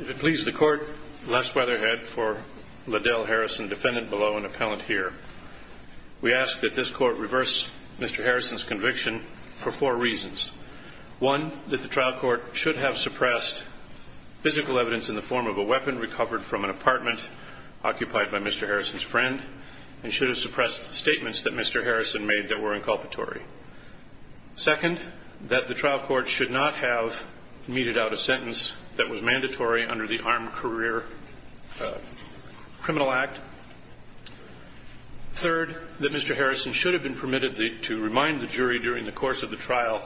If it please the court, Les Weatherhead for Liddell Harrison, defendant below and appellant here. We ask that this court reverse Mr. Harrison's conviction for four reasons. One, that the trial court should have suppressed physical evidence in the form of a weapon recovered from an apartment occupied by Mr. Harrison's friend and should have suppressed statements that Mr. Harrison made that were inculpatory. Second, that the trial court should not have meted out a sentence that was mandatory under the Armed Career Criminal Act. Third, that Mr. Harrison should have been permitted to remind the jury during the course of the trial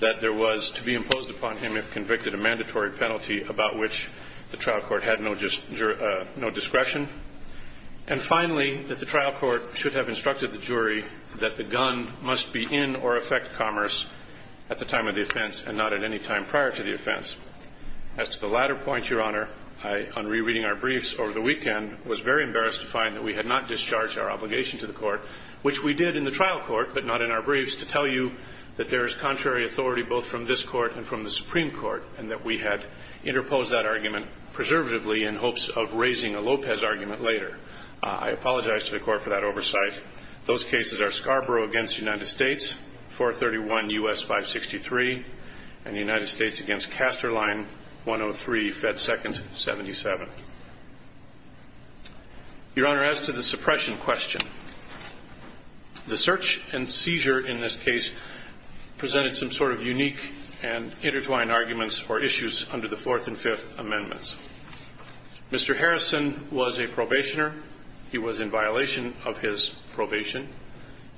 that there was to be imposed upon him if convicted a mandatory penalty about which the trial court had no discretion. And finally, that the trial court should have instructed the jury that the gun must be in or affect commerce at the time of the offense and not at any time prior to the offense. As to the latter point, Your Honor, on rereading our briefs over the weekend, I was very embarrassed to find that we had not discharged our obligation to the court, which we did in the trial court but not in our briefs, to tell you that there is contrary authority both from this court and from the Supreme Court and that we had interposed that argument preservatively in hopes of raising a Lopez argument later. I apologize to the court for that oversight. Those cases are Scarborough v. United States, 431 U.S. 563, and United States v. Casterline, 103 Fed. 2nd. 77. Your Honor, as to the suppression question, the search and seizure in this case presented some sort of unique and intertwined arguments or issues under the Fourth and Fifth Amendments. Mr. Harrison was a probationer. He was in violation of his probation.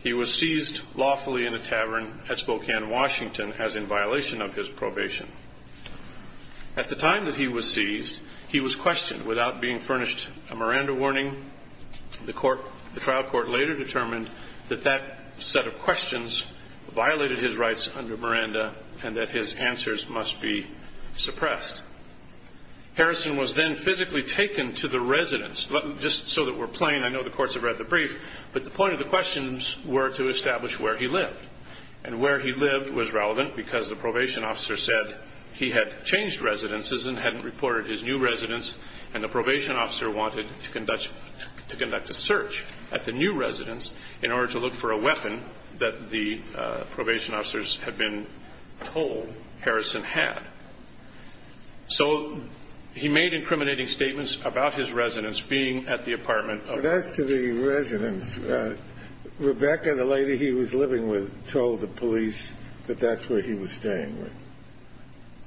He was seized lawfully in a tavern at Spokane, Washington, as in violation of his probation. At the time that he was seized, he was questioned without being furnished a Miranda warning. The trial court later determined that that set of questions violated his rights under Miranda and that his answers must be suppressed. Harrison was then physically taken to the residence. Just so that we're plain, I know the courts have read the brief, but the point of the questions were to establish where he lived. And where he lived was relevant because the probation officer said he had changed residences and hadn't reported his new residence, and the probation officer wanted to conduct a search at the new residence in order to look for a weapon that the probation officers had been told Harrison had. So he made incriminating statements about his residence being at the apartment. But as to the residence, Rebecca, the lady he was living with, told the police that that's where he was staying, right?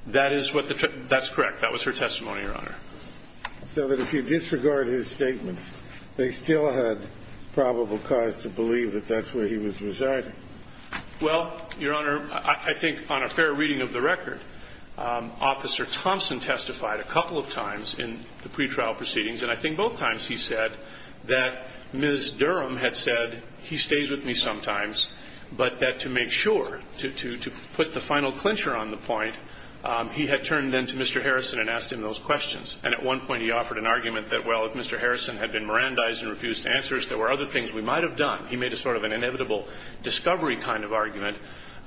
That's correct. That was her testimony, Your Honor. So that if you disregard his statements, they still had probable cause to believe that that's where he was residing? Well, Your Honor, I think on a fair reading of the record, Officer Thompson testified a couple of times in the pretrial proceedings, and I think both times he said that Ms. Durham had said, and he stays with me sometimes, but that to make sure, to put the final clincher on the point, he had turned then to Mr. Harrison and asked him those questions. And at one point he offered an argument that, well, if Mr. Harrison had been Mirandized and refused to answer us, there were other things we might have done. He made a sort of an inevitable discovery kind of argument,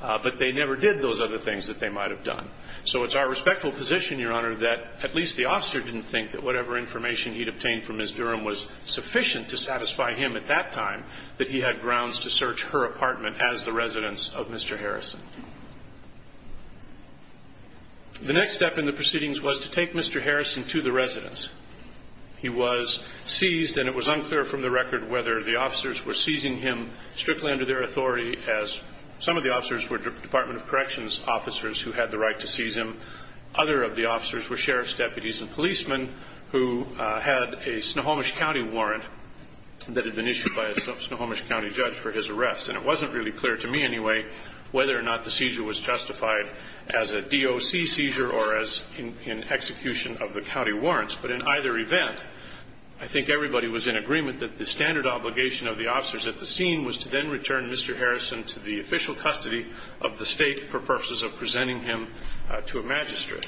but they never did those other things that they might have done. So it's our respectful position, Your Honor, that at least the officer didn't think that whatever information he'd obtained from Ms. Durham was sufficient to satisfy him at that time that he had grounds to search her apartment as the residence of Mr. Harrison. The next step in the proceedings was to take Mr. Harrison to the residence. He was seized, and it was unclear from the record whether the officers were seizing him strictly under their authority, as some of the officers were Department of Corrections officers who had the right to seize him. Other of the officers were sheriff's deputies and policemen who had a Snohomish County warrant that had been issued by a Snohomish County judge for his arrest. And it wasn't really clear to me anyway whether or not the seizure was justified as a DOC seizure or as an execution of the county warrants. But in either event, I think everybody was in agreement that the standard obligation of the officers at the scene was to then return Mr. Harrison to the official custody of the state for purposes of presenting him to a magistrate.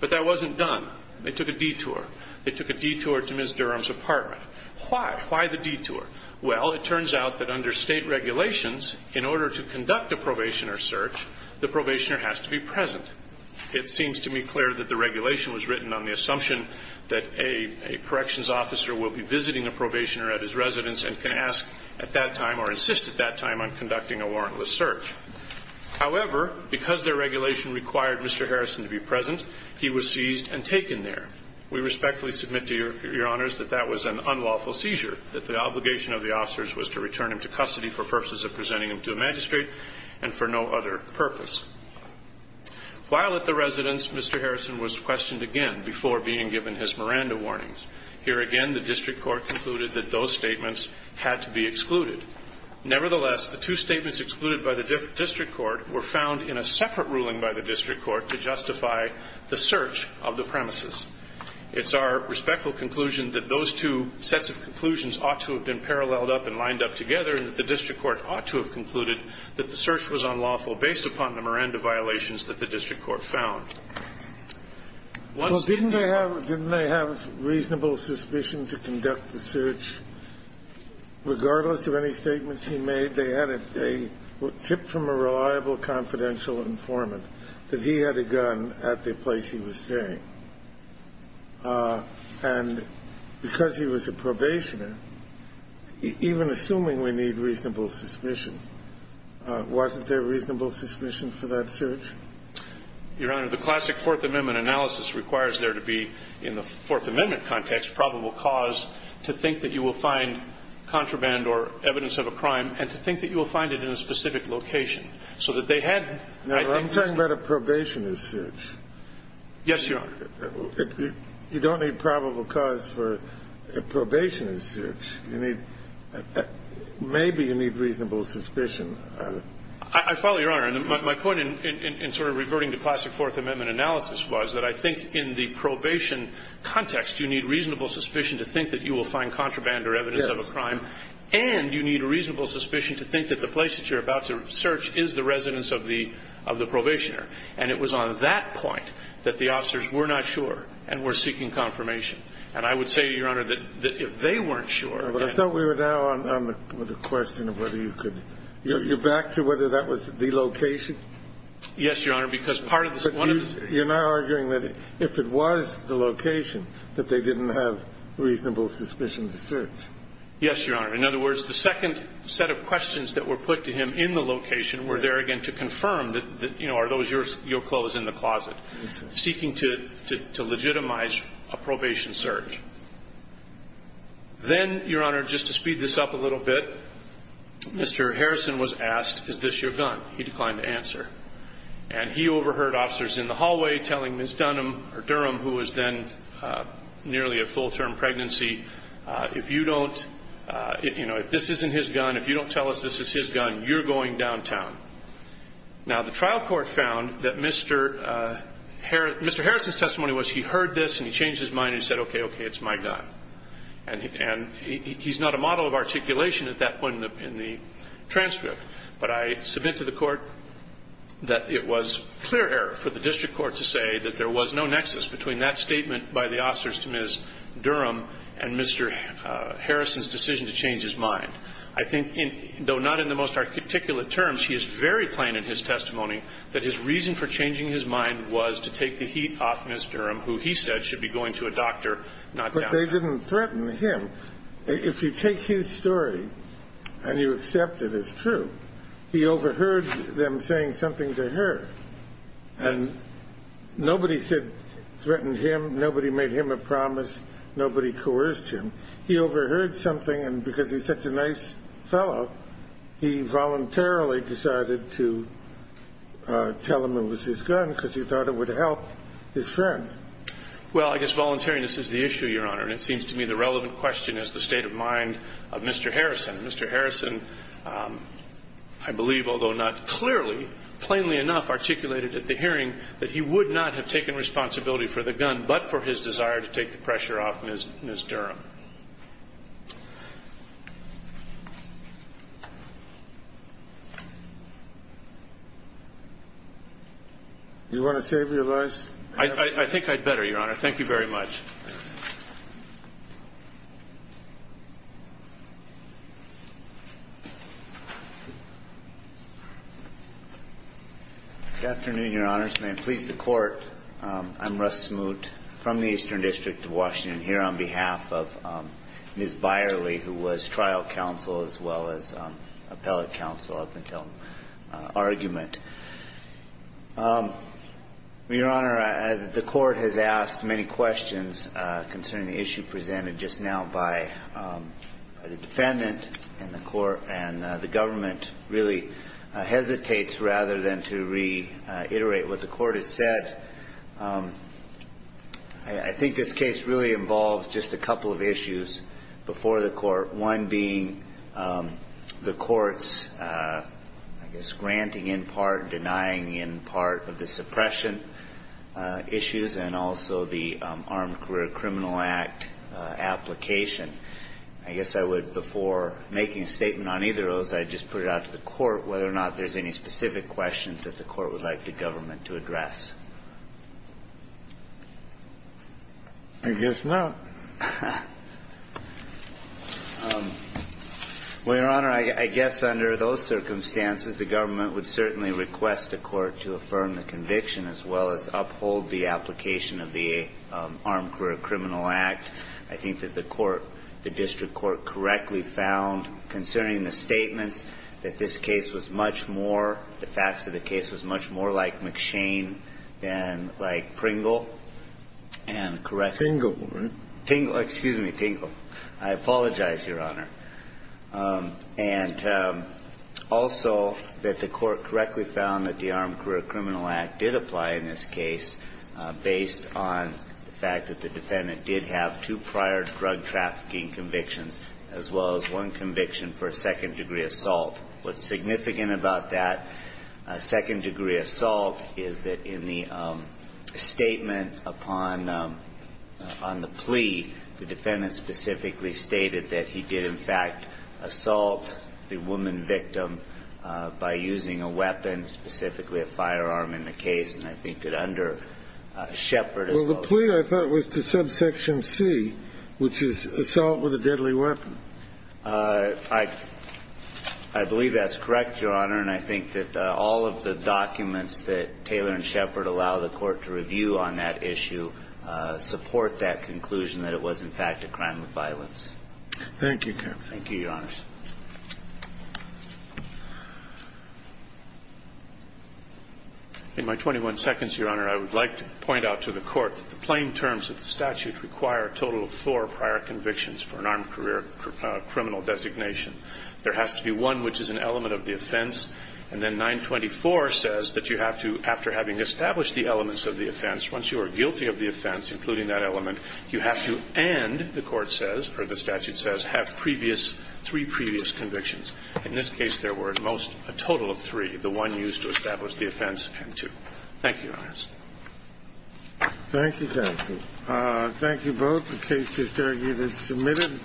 But that wasn't done. They took a detour. They took a detour to Ms. Durham's apartment. Why? Why the detour? Well, it turns out that under state regulations, in order to conduct a probationer search, the probationer has to be present. It seems to me clear that the regulation was written on the assumption that a corrections officer will be visiting a probationer at his residence and can ask at that time or insist at that time on conducting a warrantless search. However, because their regulation required Mr. Harrison to be present, he was seized and taken there. We respectfully submit to Your Honors that that was an unlawful seizure, that the obligation of the officers was to return him to custody for purposes of presenting him to a magistrate and for no other purpose. While at the residence, Mr. Harrison was questioned again before being given his Miranda warnings. Here again, the district court concluded that those statements had to be excluded. Nevertheless, the two statements excluded by the district court were found in a separate ruling by the district court to justify the search of the premises. It's our respectful conclusion that those two sets of conclusions ought to have been paralleled up and lined up together and that the district court ought to have concluded that the search was unlawful based upon the Miranda violations that the district court found. Once they found that the search was unlawful, didn't they have reasonable suspicion to conduct the search? Regardless of any statements he made, they had a tip from a reliable, confidential informant that he had a gun at the place he was staying. And because he was a probationer, even assuming we need reasonable suspicion, wasn't there reasonable suspicion for that search? Your Honor, the classic Fourth Amendment analysis requires there to be, in the Fourth Amendment context, probable cause to think that you will find contraband or evidence of a crime and to think that you will find it in a specific location. Now, I'm talking about a probationer's search. Yes, Your Honor. You don't need probable cause for a probationer's search. Maybe you need reasonable suspicion. I follow, Your Honor. And my point in sort of reverting to classic Fourth Amendment analysis was that I think in the probation context you need reasonable suspicion to think that you will find contraband or evidence of a crime and you need reasonable suspicion to think that the place that you're about to search is the residence of the probationer. And it was on that point that the officers were not sure and were seeking confirmation. And I would say, Your Honor, that if they weren't sure... But I thought we were now on the question of whether you could... You're back to whether that was the location? Yes, Your Honor, because part of the... But you're now arguing that if it was the location, that they didn't have reasonable suspicion to search. Yes, Your Honor. In other words, the second set of questions that were put to him in the location were there again to confirm, you know, are those your clothes in the closet, seeking to legitimize a probation search. Then, Your Honor, just to speed this up a little bit, Mr. Harrison was asked, is this your gun? He declined to answer. And he overheard officers in the hallway telling Ms. Dunham, or Durham, who was then nearly at full-term pregnancy, if you don't, you know, if this isn't his gun, if you don't tell us this is his gun, you're going downtown. Now, the trial court found that Mr. Harrison's testimony was he heard this and he changed his mind and he said, okay, okay, it's my gun. And he's not a model of articulation at that point in the transcript. But I submit to the court that it was clear error for the district court to say that there was no nexus between that statement by the officers to Ms. Durham and Mr. Harrison's decision to change his mind. I think, though not in the most articulate terms, he is very plain in his testimony that his reason for changing his mind was to take the heat off Ms. Durham, who he said should be going to a doctor, not downtown. But they didn't threaten him. If you take his story and you accept it as true, he overheard them saying something to her. And nobody said threatened him, nobody made him a promise, nobody coerced him. He overheard something and because he's such a nice fellow, he voluntarily decided to tell them it was his gun because he thought it would help his friend. Well, I guess voluntariness is the issue, Your Honor, and it seems to me the relevant question is the state of mind of Mr. Harrison. Mr. Harrison, I believe, although not clearly, plainly enough articulated at the hearing that he would not have taken responsibility for the gun but for his desire to take the pressure off Ms. Durham. Do you want to save your voice? I think I'd better, Your Honor. Thank you very much. Good afternoon, Your Honors. May it please the Court. I'm Russ Smoot from the Eastern District of Washington here on behalf of Ms. Byerly, who was trial counsel as well as appellate counsel up until argument. Your Honor, the Court has asked many questions concerning the issue presented just now by the defendant and the Court and the government really hesitates rather than to reiterate what the Court has said. I think this case really involves just a couple of issues before the Court, one being the Court's, I guess, granting in part, denying in part of the suppression issues and also the Armed Career Criminal Act application. I guess I would, before making a statement on either of those, I'd just put it out to the Court whether or not there's any specific questions that the Court would like the government to address. I guess not. Well, Your Honor, I guess under those circumstances, the government would certainly request the Court to affirm the conviction as well as uphold the application of the Armed Career Criminal Act. I think that the Court, the District Court, correctly found concerning the statements that this case was much more, the facts of the case was much more like McShane than like Pringle and correct. Tingle, right? Tingle, excuse me, Tingle. I apologize, Your Honor. And also that the Court correctly found that the Armed Career Criminal Act did apply in this case based on the fact that the defendant did have two prior drug trafficking convictions as well as one conviction for a second degree assault. What's significant about that second degree assault is that in the statement upon the plea, the defendant specifically stated that he did, in fact, assault the woman victim by using a weapon, specifically a firearm in the case, and I think that under Shepard as well as the case. Well, the plea I thought was to subsection C, which is assault with a deadly weapon. I believe that's correct, Your Honor, and I think that all of the documents that Taylor and Shepard allow the Court to review on that issue support that conclusion that it was, in fact, a crime of violence. Thank you, counsel. Thank you, Your Honors. In my 21 seconds, Your Honor, I would like to point out to the Court that the plain terms of the statute require a total of four prior convictions for an armed career criminal designation. There has to be one which is an element of the offense, and then 924 says that you have to, after having established the elements of the offense, once you are guilty of the offense, including that element, you have to and, the Court says, or the statute says, have three previous convictions. In this case, there were at most a total of three, the one used to establish the offense and two. Thank you, Your Honors. Thank you, counsel. Thank you both. The case is submitted.